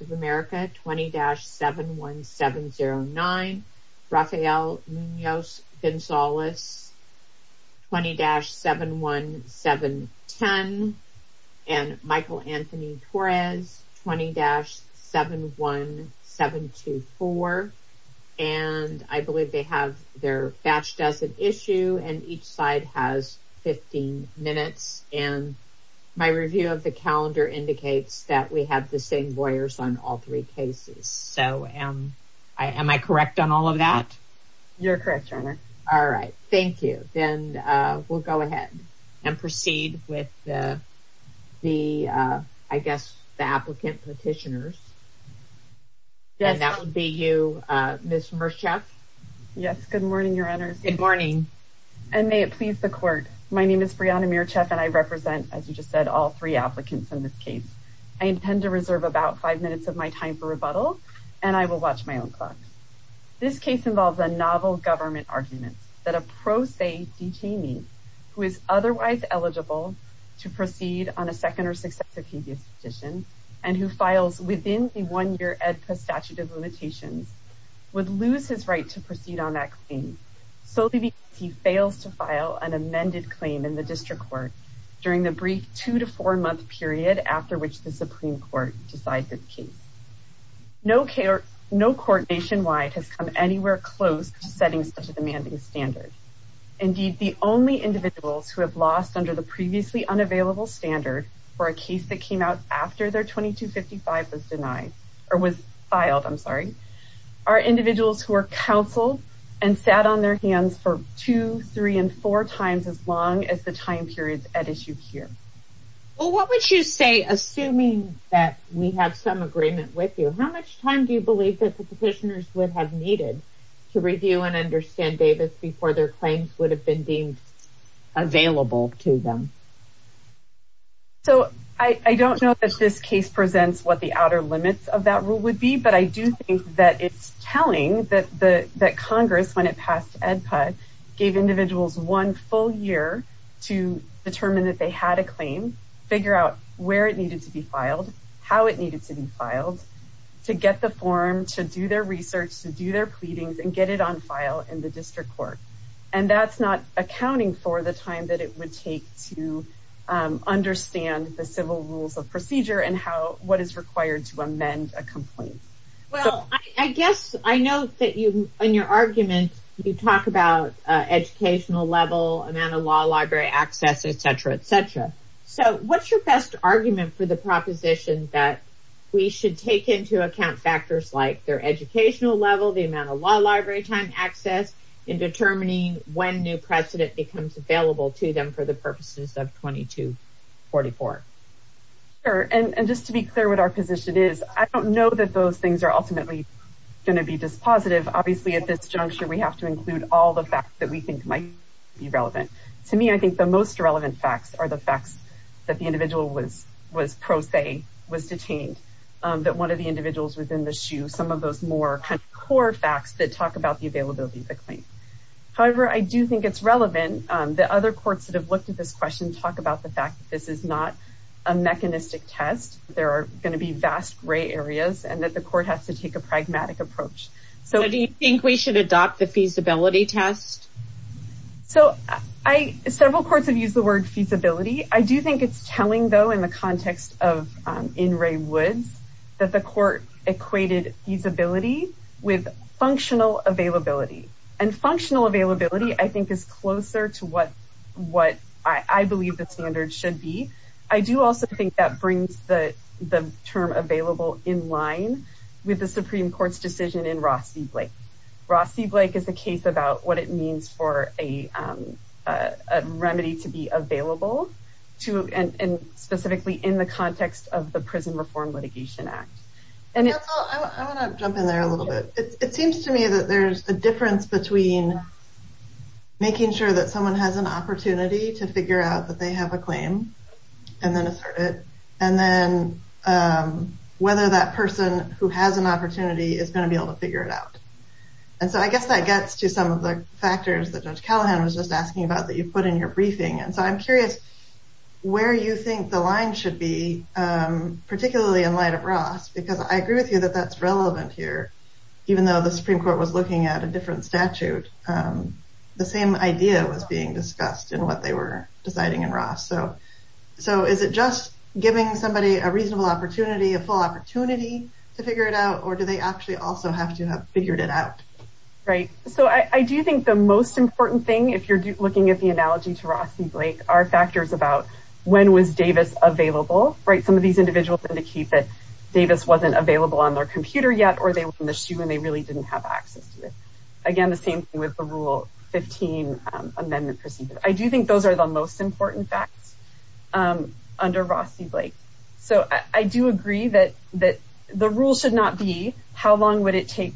of America, 20-71709, Rafael Munoz Gonzalez, 20-71710, Michael Anthony Torres, 20-71724, and I believe they have their batched as an issue, and each side has 15 minutes. And my review of the calendar indicates that we have the same lawyers on all three cases. So am I correct on all of that? You're correct, Sharma. All right. Thank you. Then we'll go ahead and proceed with the, I guess, the applicant petitioners. And that would be you, Ms. Mircheff. Yes. Good morning, Your Honors. Good morning. And may it please the Court, my name is Brianna Mircheff, and I represent, as you just said, all three applicants in this case. I intend to reserve about five minutes of my time for rebuttal, and I will watch my own clock. This case involves a novel government argument that a pro se detainee who is otherwise eligible to proceed on a second or successive previous petition, and who files within the one-year EDPA statute of limitations, would lose his right to proceed on that claim, solely because he fails to file an amended claim in the district court during the brief two- to four-month period after which the Supreme Court decides his case. No court nationwide has come anywhere close to setting such a demanding standard. Indeed, the only individuals who have lost under the previously unavailable standard for a case that came out after their 2255 was denied, or was filed, I'm sorry, are individuals who are counseled and sat on their hands for two, three, and four times as long as the time period at issue here. Well, what would you say, assuming that we have some agreement with you, how much time do you believe that the petitioners would have needed to review and understand Davis before their claims would have been deemed available to them? So, I don't know that this case presents what the outer limits of that rule would be, but I do think that it's telling that Congress, when it passed EDPA, gave individuals one full year to determine that they had a claim, figure out where it needed to be filed, how it needed to be filed, to get the form, to do their research, to do their pleadings, and get it on file in the district court. And that's not accounting for the time that it would take to understand the civil rules of procedure and what is required to amend a complaint. Well, I guess I know that in your argument you talk about educational level, amount of law library access, etc., etc. So, what's your best argument for the proposition that we should take into account factors like their educational level, the amount of law library time access in determining when new precedent becomes available to them for the purposes of 2244? Sure. And just to be clear what our position is, I don't know that those things are ultimately going to be dispositive. Obviously, at this juncture, we have to include all the facts that we think might be relevant. To me, I think the most relevant facts are the facts that the individual was pro se, was detained, that one of the individuals was in the shoe, some of those more kind of core facts that talk about the availability of the claim. However, I do think it's relevant that other courts that have looked at this question talk about the fact that this is not a mechanistic test. There are going to be vast gray areas and that the court has to take a pragmatic approach. So, do you think we should adopt the feasibility test? So, several courts have used the word feasibility. I do think it's telling, though, in the context of In Re Woods, that the court equated feasibility with functional availability. And functional availability, I think, is closer to what I believe the standards should be. I do also think that brings the term available in line with the Supreme Court's decision in Rossi Blake. Rossi Blake is a case about what it means for a remedy to be available, and specifically in the context of the Prison Reform Litigation Act. I want to jump in there a little bit. It seems to me that there's a difference between making sure that someone has an opportunity to figure out that they have a claim and then assert it, and then whether that person who has an opportunity is going to be able to figure it out. And so I guess that gets to some of the factors that Judge Callahan was just asking about that you put in your briefing. And so I'm curious where you think the line should be, particularly in light of Ross, because I agree with you that that's relevant here. Even though the Supreme Court was looking at a different statute, the same idea was being discussed in what they were deciding in Ross. So is it just giving somebody a reasonable opportunity, a full opportunity to figure it out, or do they actually also have to have figured it out? Right. So I do think the most important thing, if you're looking at the analogy to Rossi Blake, are factors about when was Davis available, right? Some of these individuals indicate that Davis wasn't available on their computer yet, or they were in the shoe and they really didn't have access to it. Again, the same thing with the Rule 15 amendment procedure. I do think those are the most important facts under Rossi Blake. So I do agree that the rule should not be how long would it take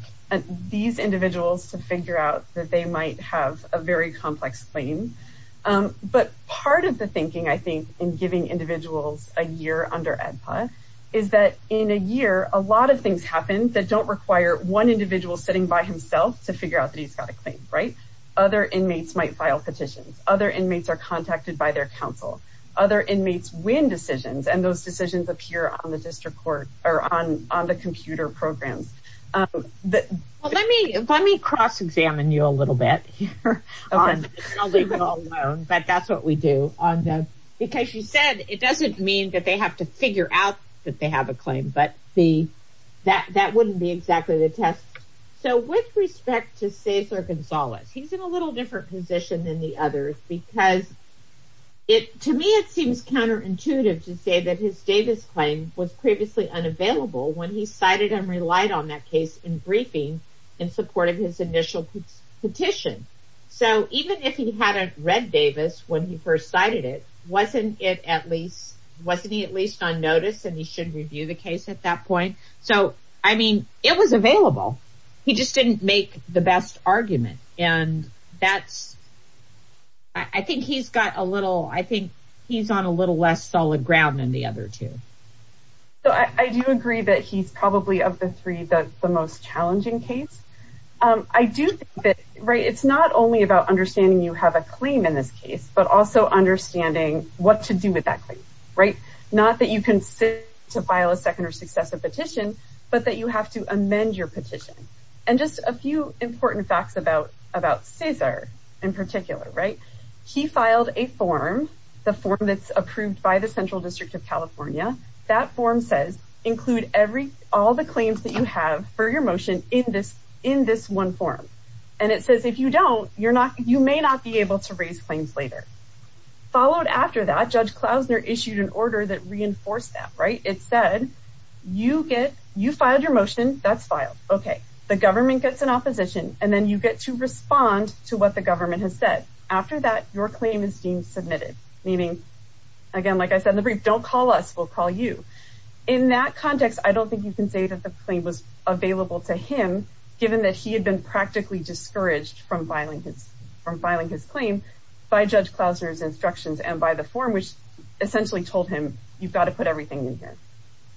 these individuals to figure out that they might have a very complex claim. But part of the thinking, I think, in giving individuals a year under AEDPA is that in a year, a lot of things happen that don't require one individual sitting by himself to figure out that he's got a claim, right? Other inmates might file petitions. Other inmates are contacted by their counsel. Other inmates win decisions, and those decisions appear on the district court or on the computer programs. Well, let me cross-examine you a little bit here. I'll leave you alone, but that's what we do. Because you said it doesn't mean that they have to figure out that they have a claim, but that wouldn't be exactly the test. So with respect to Cesar Gonzalez, he's in a little different position than the others, because to me it seems counterintuitive to say that his Davis claim was previously unavailable when he cited and relied on that case in briefing in support of his initial petition. So even if he hadn't read Davis when he first cited it, wasn't he at least on notice and he should review the case at that point? So, I mean, it was available. He just didn't make the best argument. And that's, I think he's got a little, I think he's on a little less solid ground than the other two. So I do agree that he's probably of the three, the most challenging case. I do think that, right, it's not only about understanding you have a claim in this case, but also understanding what to do with that claim, right? Not that you can sit to file a second or successive petition, but that you have to amend your petition. And just a few important facts about Cesar in particular, right? He filed a form, the form that's approved by the Central District of California. That form says include all the claims that you have for your motion in this one form. And it says if you don't, you may not be able to raise claims later. Followed after that, Judge Klausner issued an order that reinforced that, right? It said, you filed your motion, that's filed. Okay, the government gets an opposition and then you get to respond to what the government has said. After that, your claim is being submitted. Meaning, again, like I said in the brief, don't call us, we'll call you. In that context, I don't think you can say that the claim was available to him, given that he had been practically discouraged from filing his claim by Judge Klausner's instructions and by the form, which essentially told him, you've got to put everything in here.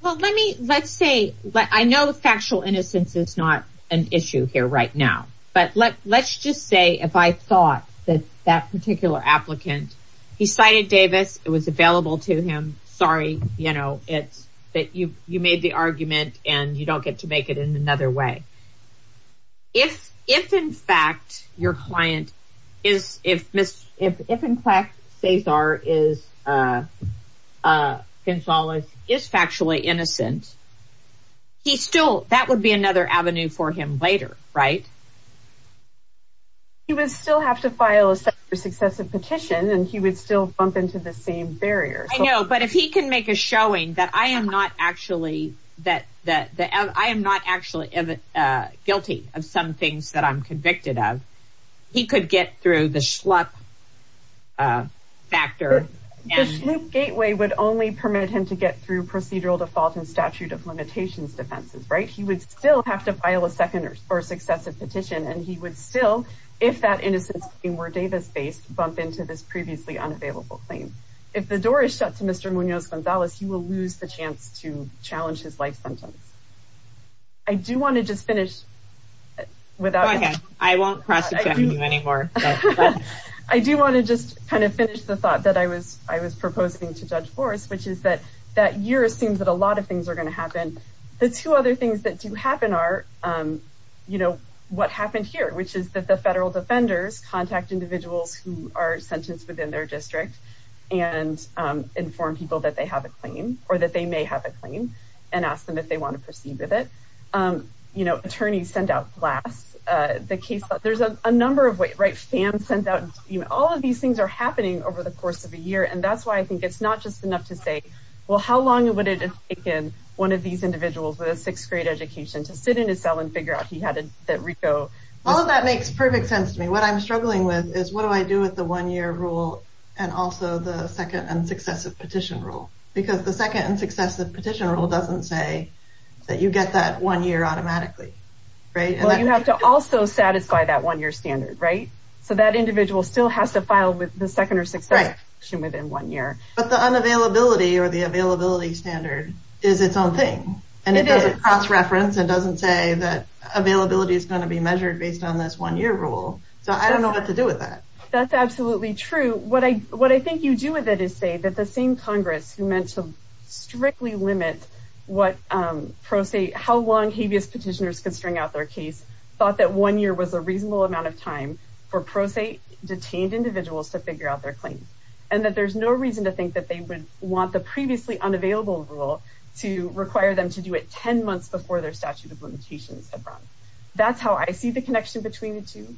Well, let me, let's say, I know factual innocence is not an issue here right now. But let's just say if I thought that that particular applicant, he cited Davis, it was available to him. Sorry, you know, it's that you made the argument and you don't get to make it in another way. If in fact your client is, if in fact Cesar is, Gonzalez is factually innocent, he still, that would be another avenue for him later, right? He would still have to file a successive petition and he would still bump into the same barrier. I know, but if he can make a showing that I am not actually, that I am not actually guilty of some things that I'm convicted of, he could get through the schlup factor. The schlup gateway would only permit him to get through procedural default and statute of limitations defenses, right? He would still have to file a second or successive petition and he would still, if that innocence claim were Davis-based, bump into this previously unavailable claim. If the door is shut to Mr. Munoz-Gonzalez, he will lose the chance to challenge his life sentence. I do want to just finish without... Okay, I won't cross-examine you anymore. I do want to just kind of finish the thought that I was proposing to Judge Morris, which is that that year seems that a lot of things are going to happen. The two other things that do happen are, you know, what happened here, which is that the federal defenders contact individuals who are sentenced within their district and inform people that they have a claim or that they may have a claim and ask them if they want to proceed with it. You know, attorneys send out blasts. There's a number of ways, right? All of these things are happening over the course of a year, and that's why I think it's not just enough to say, well, how long would it have taken one of these individuals with a sixth-grade education to sit in his cell and figure out that Rico... All of that makes perfect sense to me. What I'm struggling with is what do I do with the one-year rule and also the second and successive petition rule? Because the second and successive petition rule doesn't say that you get that one year automatically, right? Well, you have to also satisfy that one-year standard, right? So that individual still has to file the second or successive petition within one year. But the unavailability or the availability standard is its own thing. It is. And it doesn't cross-reference. It doesn't say that availability is going to be measured based on this one-year rule. So I don't know what to do with that. That's absolutely true. What I think you do with it is say that the same Congress, who meant to strictly limit how long habeas petitioners could string out their case, thought that one year was a reasonable amount of time for pro se detained individuals to figure out their claims and that there's no reason to think that they would want the previously unavailable rule to require them to do it ten months before their statute of limitations had run. That's how I see the connection between the two.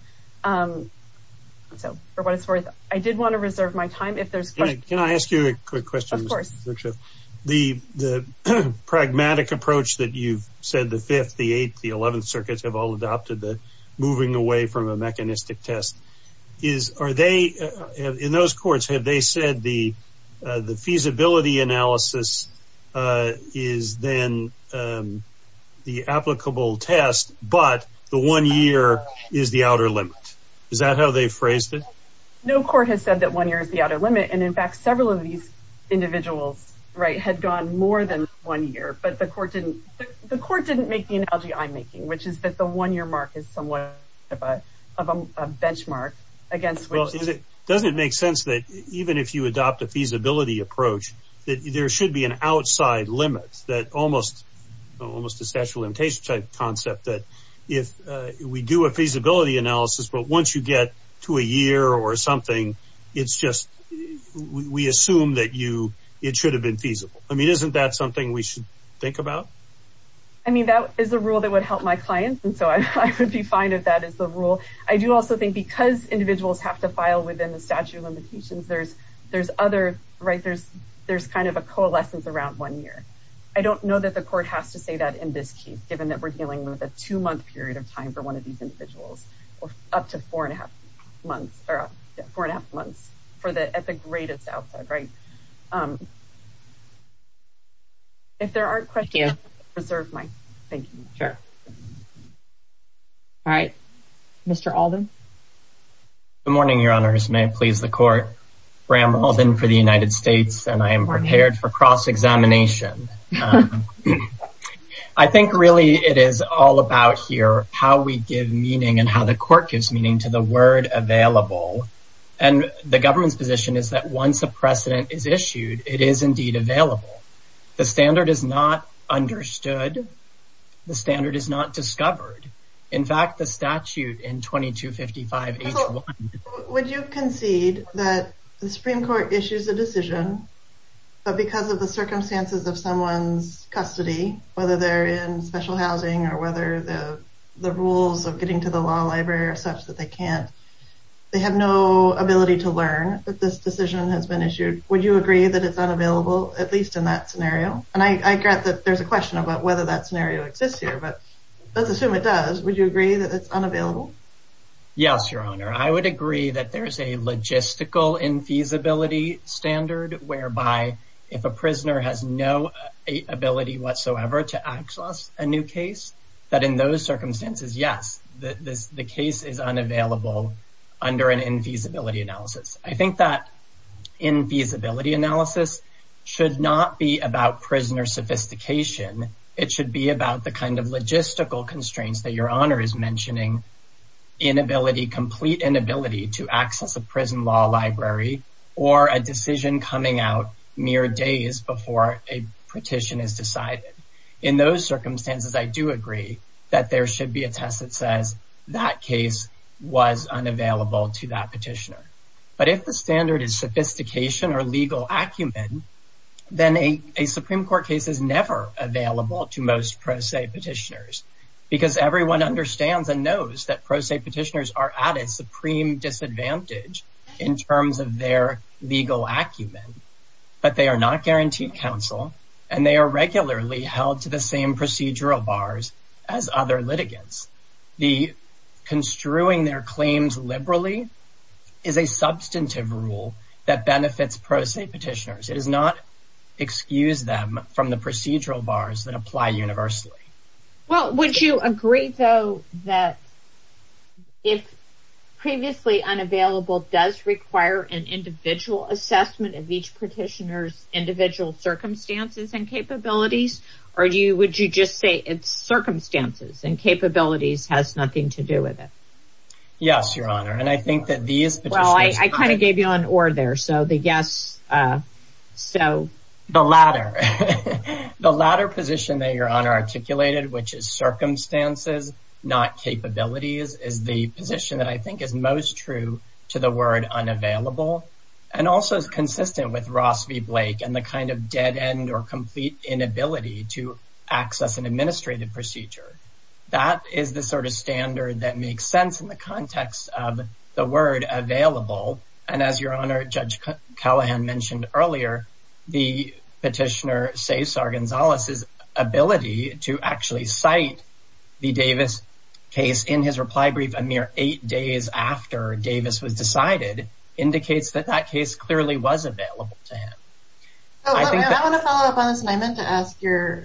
So for what it's worth, I did want to reserve my time if there's questions. Can I ask you a quick question? Of course. The pragmatic approach that you've said the Fifth, the Eighth, the Eleventh Circuits have all adopted, moving away from a mechanistic test, in those courts have they said the feasibility analysis is then the applicable test, but the one year is the outer limit? Is that how they phrased it? No court has said that one year is the outer limit. And, in fact, several of these individuals had gone more than one year, but the court didn't make the analogy I'm making, which is that the one year mark is somewhat of a benchmark. Doesn't it make sense that even if you adopt a feasibility approach, that there should be an outside limit, almost a statute of limitations type concept that if we do a feasibility analysis, but once you get to a year or something, it's just we assume that it should have been feasible. I mean, isn't that something we should think about? I mean, that is a rule that would help my clients, and so I would be fine if that is the rule. I do also think because individuals have to file within the statute of limitations, there's other, right, there's kind of a coalescence around one year. I don't know that the court has to say that in this case, given that we're dealing with a two-month period of time for one of these individuals, or up to four and a half months or four and a half months for the at the greatest outside rate. If there are questions, reserve my thank you. Sure. All right, Mr. Alden. Good morning, Your Honors. May it please the court. Bram Alden for the United States, and I am prepared for cross-examination. I think really it is all about here how we give meaning and how the court gives meaning to the word available, and the government's position is that once a precedent is issued, it is indeed available. The standard is not understood. The standard is not discovered. In fact, the statute in 2255H1. But because of the circumstances of someone's custody, whether they're in special housing or whether the rules of getting to the law library are such that they can't, they have no ability to learn that this decision has been issued. Would you agree that it's unavailable, at least in that scenario? And I get that there's a question about whether that scenario exists here, but let's assume it does. Would you agree that it's unavailable? Yes, Your Honor. I would agree that there's a logistical infeasibility standard whereby if a prisoner has no ability whatsoever to access a new case, that in those circumstances, yes, the case is unavailable under an infeasibility analysis. I think that infeasibility analysis should not be about prisoner sophistication. It should be about the kind of logistical constraints that Your Honor is mentioning, complete inability to access a prison law library or a decision coming out mere days before a petition is decided. In those circumstances, I do agree that there should be a test that says that case was unavailable to that petitioner. But if the standard is sophistication or legal acumen, then a Supreme Court case is never available to most pro se petitioners because everyone understands and knows that pro se petitioners are at a supreme disadvantage in terms of their legal acumen, but they are not guaranteed counsel and they are regularly held to the same procedural bars as other litigants. Construing their claims liberally is a substantive rule that benefits pro se petitioners. It does not excuse them from the procedural bars that apply universally. Well, would you agree, though, that if previously unavailable does require an individual assessment of each petitioner's individual circumstances and capabilities, or would you just say it's circumstances and capabilities has nothing to do with it? Yes, Your Honor, and I think that these... Well, I kind of gave you an or there, so the yes, so... The latter. The latter position that Your Honor articulated, which is circumstances, not capabilities, is the position that I think is most true to the word unavailable and also is consistent with Ross v. Blake and the kind of dead end or complete inability to access an administrative procedure. That is the sort of standard that makes sense in the context of the word available, and as Your Honor, Judge Callahan mentioned earlier, the petitioner, Cesar Gonzalez's ability to actually cite the Davis case in his reply brief a mere eight days after Davis was decided indicates that that case clearly was available to him. I want to follow up on this, and I meant to ask your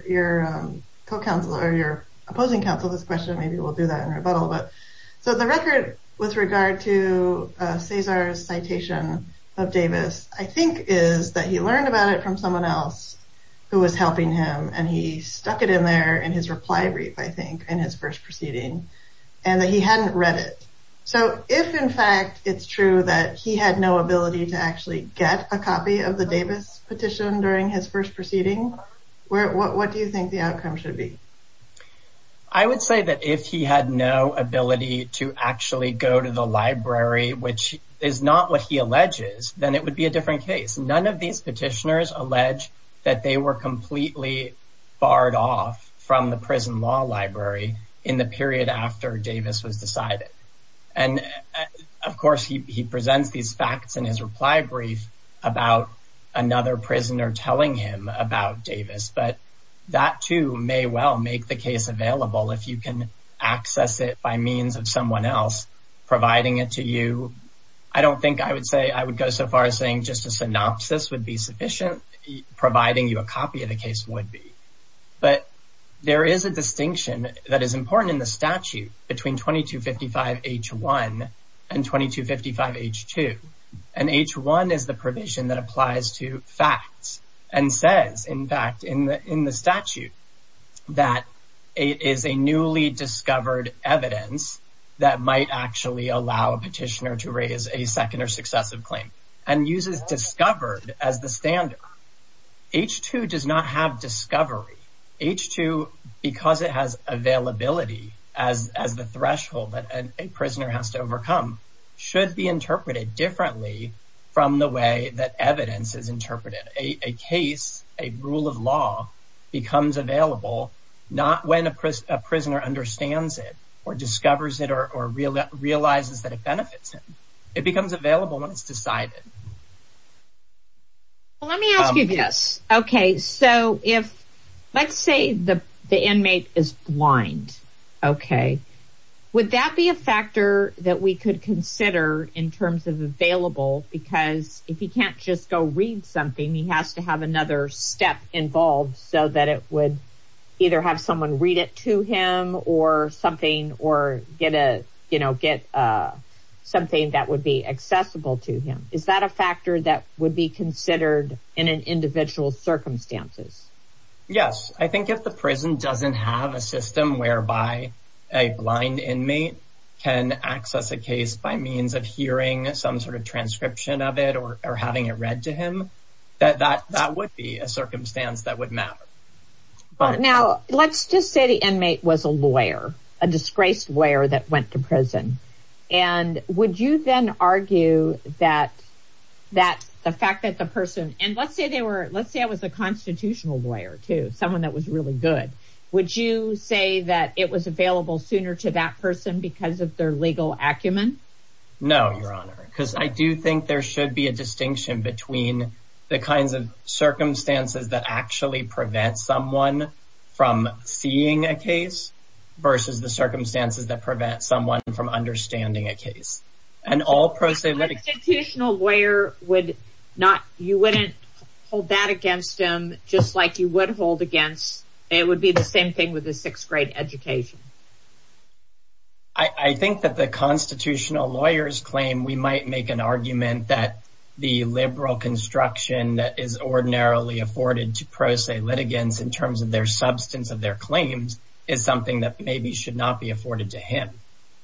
opposing counsel this question. Maybe we'll do that in rebuttal, but so the record with regard to Cesar's citation of Davis, I think is that he learned about it from someone else who was helping him, and he stuck it in there in his reply brief, I think, in his first proceeding, and that he hadn't read it. So if, in fact, it's true that he had no ability to actually get a copy of the Davis petition during his first proceeding, what do you think the outcome should be? I would say that if he had no ability to actually go to the library, which is not what he alleges, then it would be a different case. None of these petitioners allege that they were completely barred off from the prison law library in the period after Davis was decided. And, of course, he presents these facts in his reply brief about another prisoner telling him about Davis, but that, too, may well make the case available if you can access it by means of someone else providing it to you. I don't think I would say I would go so far as saying just a synopsis would be sufficient, providing you a copy of the case would be. But there is a distinction that is important in the statute between 2255H1 and 2255H2, and H1 is the provision that applies to facts and says, in fact, in the statute, that it is a newly discovered evidence that might actually allow a petitioner to raise a second or successive claim, and uses discovered as the standard. H2 does not have discovery. H2, because it has availability as the threshold that a prisoner has to overcome, should be interpreted differently from the way that evidence is interpreted. A case, a rule of law, becomes available not when a prisoner understands it or discovers it or realizes that it benefits him. It becomes available when it's decided. Well, let me ask you this. Okay. So, let's say the inmate is blind. Okay. Because if he can't just go read something, he has to have another step involved so that it would either have someone read it to him or something, or get something that would be accessible to him. Is that a factor that would be considered in an individual's circumstances? Yes. I think if the prison doesn't have a system whereby a blind inmate can access a case by means of hearing some sort of transcription of it or having it read to him, that would be a circumstance that would matter. Now, let's just say the inmate was a lawyer, a disgraced lawyer that went to prison. And would you then argue that the fact that the person – and let's say it was a constitutional lawyer, too, someone that was really good. Would you say that it was available sooner to that person because of their legal acumen? No, Your Honor. Because I do think there should be a distinction between the kinds of circumstances that actually prevent someone from seeing a case versus the circumstances that prevent someone from understanding a case. A constitutional lawyer would not – you wouldn't hold that against him just like you would hold against – it would be the same thing with a sixth-grade education. I think that the constitutional lawyers claim we might make an argument that the liberal construction that is ordinarily afforded to pro se litigants in terms of their substance of their claims is something that maybe should not be afforded to him.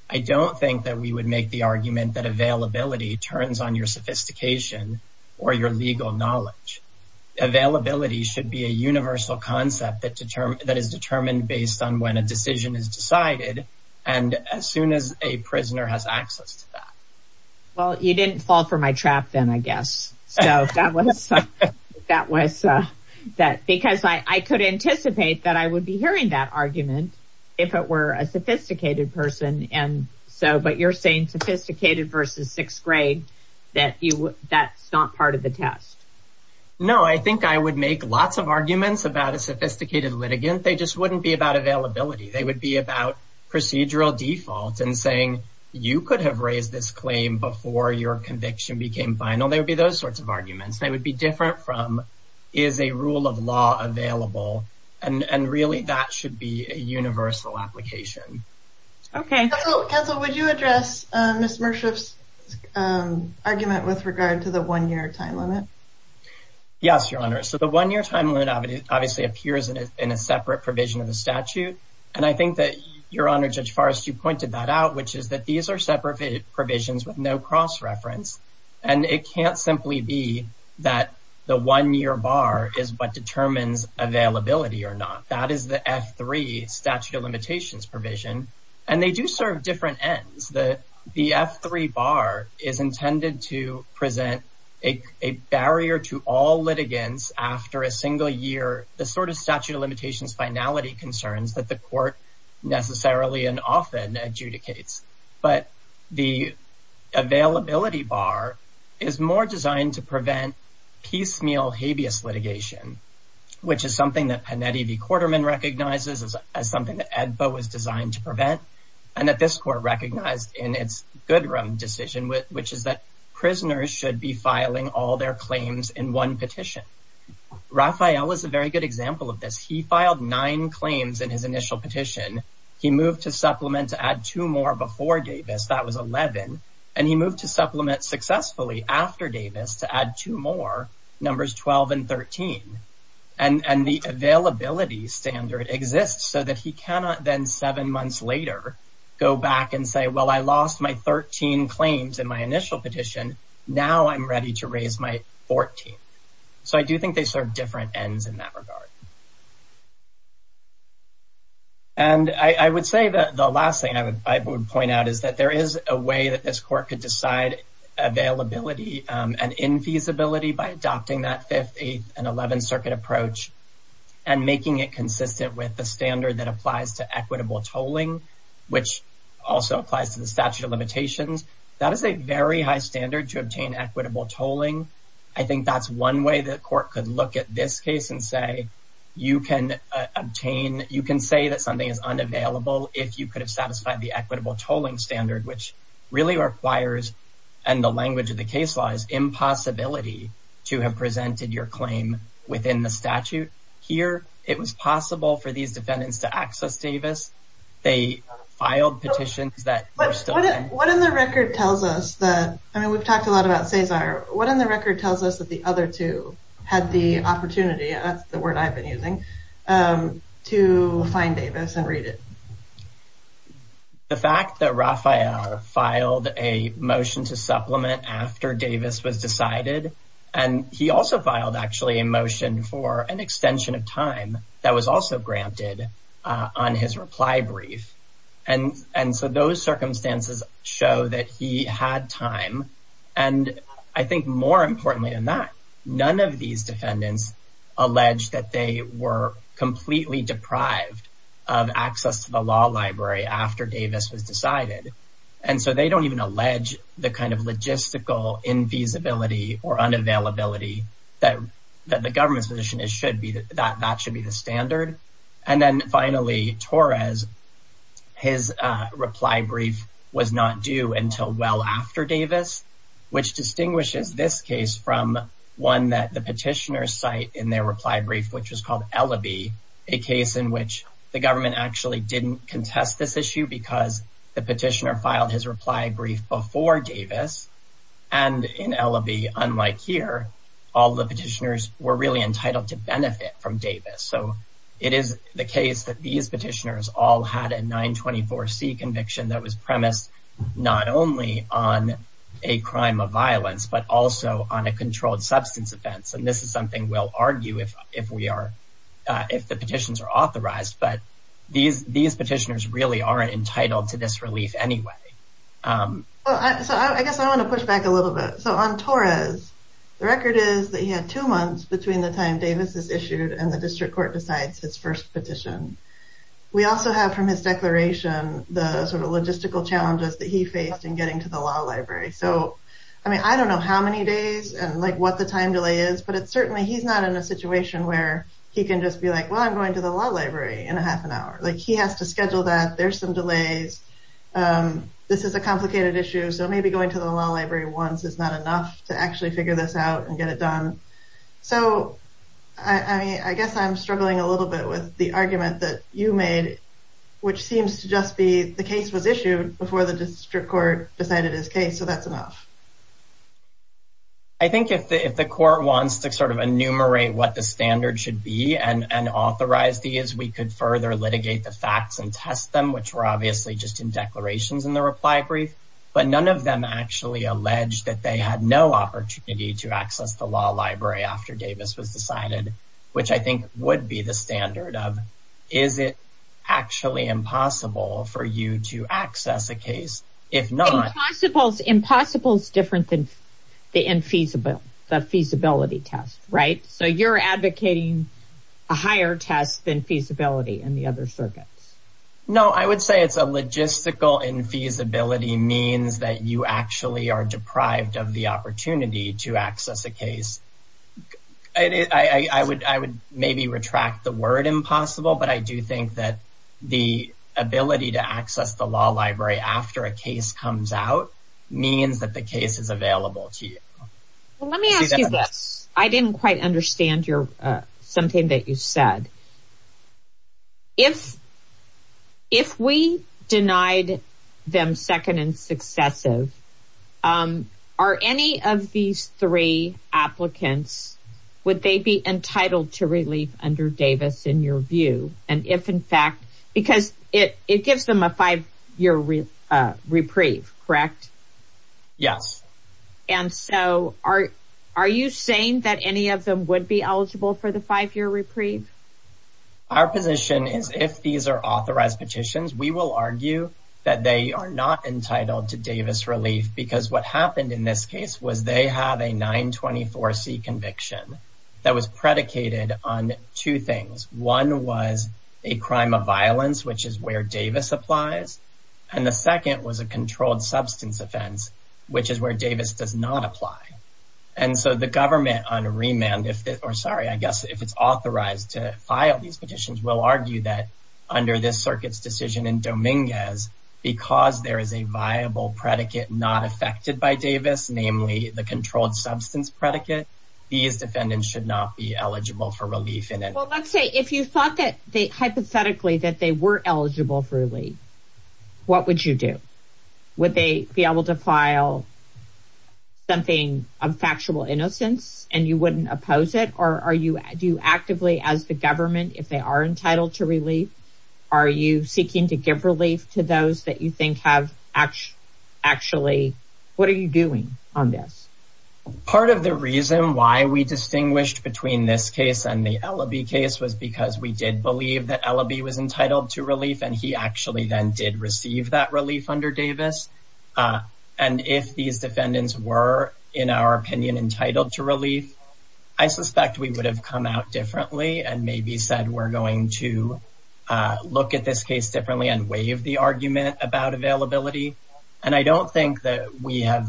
I don't think that we would make the argument that availability turns on your sophistication or your legal knowledge. Availability should be a universal concept that is determined based on when a decision is decided and as soon as a prisoner has access to that. Well, you didn't fall for my trap then, I guess. So, that was – because I could anticipate that I would be hearing that argument if it were a sophisticated person, but you're saying sophisticated versus sixth grade, that's not part of the test. No, I think I would make lots of arguments about a sophisticated litigant. They just wouldn't be about availability. They would be about procedural default and saying you could have raised this claim before your conviction became final. They would be those sorts of arguments. They would be different from is a rule of law available, and really that should be a universal application. Okay. Counsel, would you address Ms. Mershof's argument with regard to the one-year time limit? Yes, Your Honor. So, the one-year time limit obviously appears in a separate provision of the statute, and I think that, Your Honor, Judge Forrest, you pointed that out, which is that these are separate provisions with no cross-reference, and it can't simply be that the one-year bar is what determines availability or not. That is the F-3 statute of limitations provision, and they do serve different ends. The F-3 bar is intended to present a barrier to all litigants after a single year, the sort of statute of limitations finality concerns that the court necessarily and often adjudicates, but the availability bar is more designed to prevent piecemeal habeas litigation, which is something that Panetti v. Quarterman recognizes as something that AEDPA was designed to prevent and that this court recognized in its Goodrum decision, which is that prisoners should be filing all their claims in one petition. Raphael is a very good example of this. He filed nine claims in his initial petition. He moved to supplement to add two more before Davis. That was 11, and he moved to supplement successfully after Davis to add two more, numbers 12 and 13, and the availability standard exists so that he cannot then seven months later go back and say, well, I lost my 13 claims in my initial petition. Now I'm ready to raise my 14th. So I do think they serve different ends in that regard. And I would say that the last thing I would point out is that there is a way that this court could decide availability and infeasibility by adopting that 5th, 8th, and 11th Circuit approach and making it consistent with the standard that applies to equitable tolling, which also applies to the statute of limitations. That is a very high standard to obtain equitable tolling. I think that's one way the court could look at this case and say you can obtain, you can say that something is unavailable if you could have satisfied the equitable tolling standard, which really requires, and the language of the case law, is impossibility to have presented your claim within the statute. Here it was possible for these defendants to access Davis. They filed petitions that were still in. What in the record tells us that, I mean, we've talked a lot about Cesar. What in the record tells us that the other two had the opportunity, that's the word I've been using, to find Davis and read it? The fact that Rafael filed a motion to supplement after Davis was decided, and he also filed, actually, a motion for an extension of time that was also granted on his reply brief. And so those circumstances show that he had time. And I think more importantly than that, none of these defendants allege that they were completely deprived of access to the law library after Davis was decided. And so they don't even allege the kind of logistical infeasibility or unavailability that the government's position is that that should be the standard. And then finally, Torres, his reply brief was not due until well after Davis, which distinguishes this case from one that the petitioners cite in their reply brief, which was called Ellaby, a case in which the government actually didn't contest this issue because the petitioner filed his reply brief before Davis. And in Ellaby, unlike here, all the petitioners were really entitled to benefit from Davis. So it is the case that these petitioners all had a 924C conviction that was premised not only on a crime of violence, but also on a controlled substance offense. And this is something we'll argue if we are if the petitions are authorized. But these these petitioners really aren't entitled to this relief anyway. So I guess I want to push back a little bit. So on Torres, the record is that he had two months between the time Davis is issued and the district court decides his first petition. We also have from his declaration the sort of logistical challenges that he faced in getting to the law library. So, I mean, I don't know how many days and like what the time delay is, but it's certainly he's not in a situation where he can just be like, well, I'm going to the law library in a half an hour. Like he has to schedule that. There's some delays. This is a complicated issue. So maybe going to the law library once is not enough to actually figure this out and get it done. So, I mean, I guess I'm struggling a little bit with the argument that you made, which seems to just be the case was issued before the district court decided his case. So that's enough. I think if the court wants to sort of enumerate what the standard should be and authorize these, we could further litigate the facts and test them, which were obviously just in declarations in the reply brief. But none of them actually alleged that they had no opportunity to access the law library after Davis was decided, which I think would be the standard of. Is it actually impossible for you to access a case? If not, I suppose impossible is different than the infeasible, the feasibility test. Right. So you're advocating a higher test than feasibility and the other circuits. No, I would say it's a logistical infeasibility means that you actually are deprived of the opportunity to access a case. I would I would maybe retract the word impossible. But I do think that the ability to access the law library after a case comes out means that the case is available to you. Let me ask you this. I didn't quite understand your something that you said. If if we denied them second and successive, are any of these three applicants, would they be entitled to relief under Davis in your view? And if in fact, because it it gives them a five year reprieve. Correct. Yes. And so are are you saying that any of them would be eligible for the five year reprieve? Our position is if these are authorized petitions, we will argue that they are not entitled to Davis relief because what happened in this case was they have a 924 C conviction that was predicated on two things. One was a crime of violence, which is where Davis applies. And the second was a controlled substance offense, which is where Davis does not apply. And so the government on a remand or sorry, I guess if it's authorized to file these petitions, we'll argue that under this circuit's decision in Dominguez, because there is a viable predicate not affected by Davis, namely the controlled substance predicate, these defendants should not be eligible for relief. Well, let's say if you thought that they hypothetically that they were eligible for relief, what would you do? Would they be able to file something of factual innocence and you wouldn't oppose it? Or are you do you actively as the government if they are entitled to relief? Are you seeking to give relief to those that you think have actually actually what are you doing on this? Part of the reason why we distinguished between this case and the L.A.B. case was because we did believe that L.A.B. was entitled to relief and he actually then did receive that relief under Davis. And if these defendants were, in our opinion, entitled to relief, I suspect we would have come out differently and maybe said, we're going to look at this case differently and waive the argument about availability. And I don't think that we have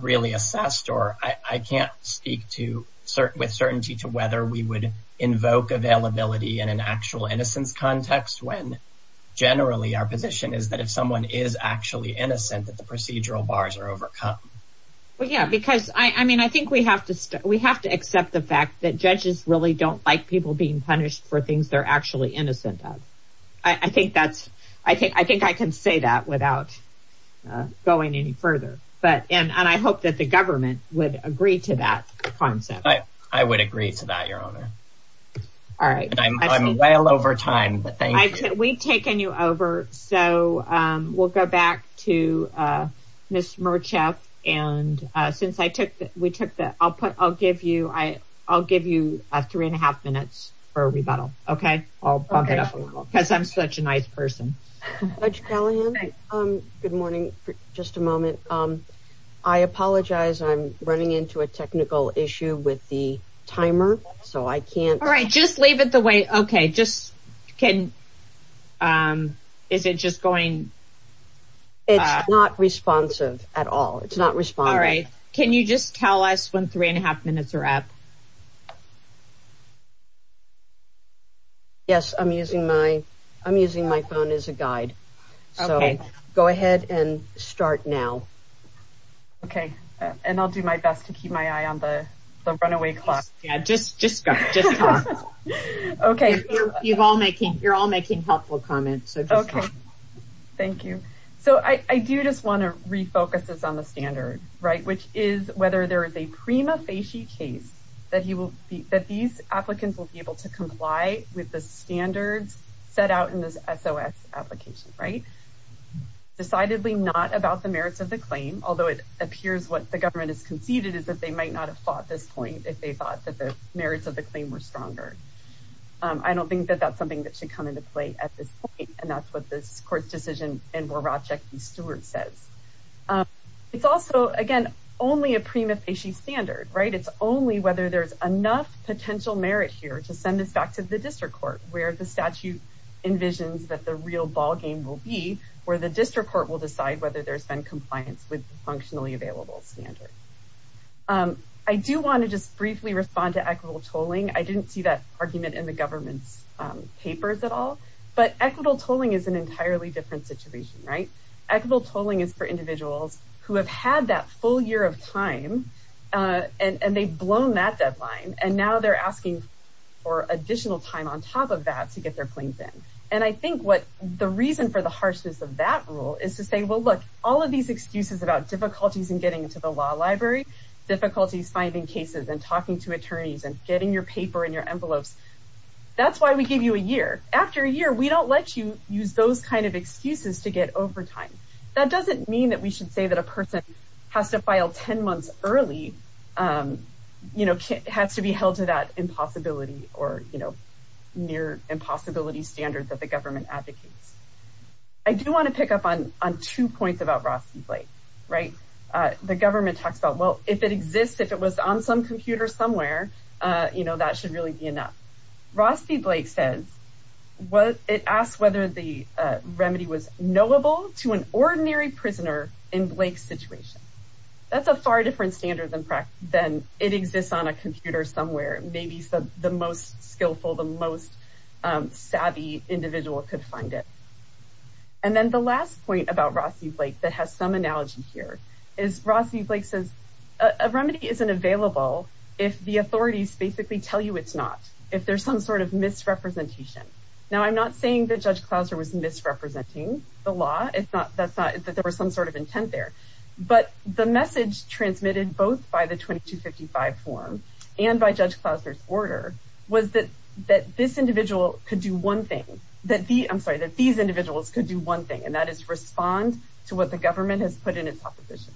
really assessed or I can't speak to certain with certainty to whether we would invoke availability and an actual innocence context when generally our position is that if someone is actually innocent, that the procedural bars are overcome. Well, yeah, because I mean, I think we have to we have to accept the fact that judges really don't like people being punished for things they're actually innocent of. I think that's I think I think I can say that without going any further. But and I hope that the government would agree to that concept. I would agree to that, Your Honor. All right. I'm well over time, but we've taken you over. So we'll go back to Ms. Merchev and since I took that, we took that. I'll put I'll give you I I'll give you three and a half minutes for a rebuttal. OK, I'll bump it up a little because I'm such a nice person. Judge Callahan. Good morning. Just a moment. I apologize. I'm running into a technical issue with the timer, so I can't. All right. Just leave it the way. OK, just can. Is it just going. It's not responsive at all. It's not responding. All right. Can you just tell us when three and a half minutes are up. Yes, I'm using my I'm using my phone as a guide. So go ahead and start now. OK, and I'll do my best to keep my eye on the runaway clock. Yeah, just just just OK. You've all making you're all making helpful comments. OK, thank you. So I do just want to refocus on the standard. Right. Which is whether there is a prima facie case that you will that these applicants will be able to comply with the standards set out in this application. Right. Decidedly not about the merits of the claim, although it appears what the government has conceded is that they might not have fought this point if they thought that the merits of the claim were stronger. I don't think that that's something that should come into play at this point. And that's what this court's decision. And we're objecting. Stewart says it's also, again, only a prima facie standard. Right. It's only whether there's enough potential merit here to send this back to the district court where the statute envisions that the real ballgame will be where the district court will decide whether there's been compliance with functionally available standards. I do want to just briefly respond to equitable tolling. I didn't see that argument in the government's papers at all. But equitable tolling is an entirely different situation. Right. Equitable tolling is for individuals who have had that full year of time and they've blown that deadline. And now they're asking for additional time on top of that to get their claims in. And I think what the reason for the harshness of that rule is to say, well, look, all of these excuses about difficulties in getting into the law library, difficulties finding cases and talking to attorneys and getting your paper in your envelopes. That's why we give you a year after a year. We don't let you use those kind of excuses to get overtime. That doesn't mean that we should say that a person has to file 10 months early, you know, has to be held to that impossibility or, you know, near impossibility standards that the government advocates. I do want to pick up on on two points about Rossi Blake. Right. The government talks about, well, if it exists, if it was on some computer somewhere, you know, that should really be enough. Rossi Blake says, well, it asks whether the remedy was knowable to an ordinary prisoner in Blake's situation. That's a far different standard than it exists on a computer somewhere. Maybe the most skillful, the most savvy individual could find it. And then the last point about Rossi Blake that has some analogy here is Rossi Blake says a remedy isn't available if the authorities basically tell you it's not if there's some sort of misrepresentation. Now, I'm not saying that Judge Clouser was misrepresenting the law. It's not that's not that there was some sort of intent there. But the message transmitted both by the 2255 form and by Judge Clouser's order was that that this individual could do one thing that the I'm sorry that these individuals could do one thing. And that is respond to what the government has put in its opposition.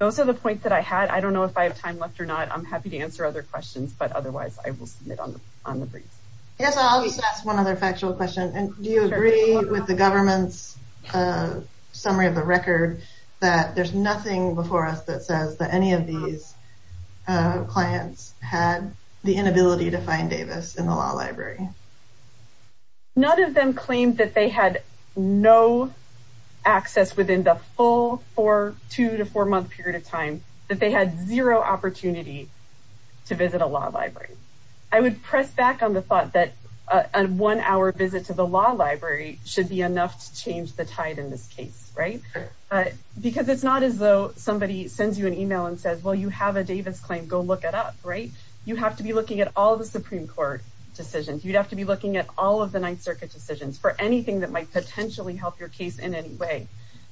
Those are the points that I had. I don't know if I have time left or not. I'm happy to answer other questions, but otherwise I will submit on the briefs. Yes, I'll just ask one other factual question. And do you agree with the government's summary of the record that there's nothing before us that says that any of these clients had the inability to find Davis in the law library? None of them claimed that they had no access within the full four two to four month period of time that they had zero opportunity to visit a law library. I would press back on the thought that a one hour visit to the law library should be enough to change the tide in this case, right? Because it's not as though somebody sends you an email and says, well, you have a Davis claim. Go look it up. Right. You have to be looking at all the Supreme Court decisions. You'd have to be looking at all of the Ninth Circuit decisions for anything that might potentially help your case in any way.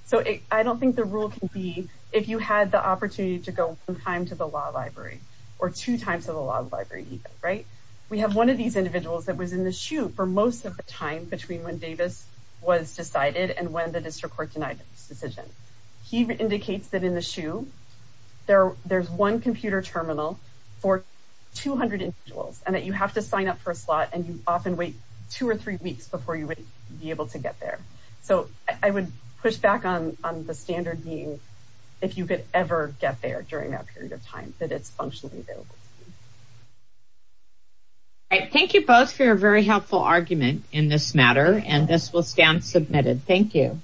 So I don't think the rule can be if you had the opportunity to go one time to the law library or two times to the law library. Right. We have one of these individuals that was in the shoe for most of the time between when Davis was decided and when the district court denied this decision. He indicates that in the shoe there there's one computer terminal for 200 individuals and that you have to sign up for a slot and you often wait two or three weeks before you would be able to get there. So I would push back on the standard being if you could ever get there during that period of time that it's functionally available. Thank you both for a very helpful argument in this matter and this will stand submitted. Thank you.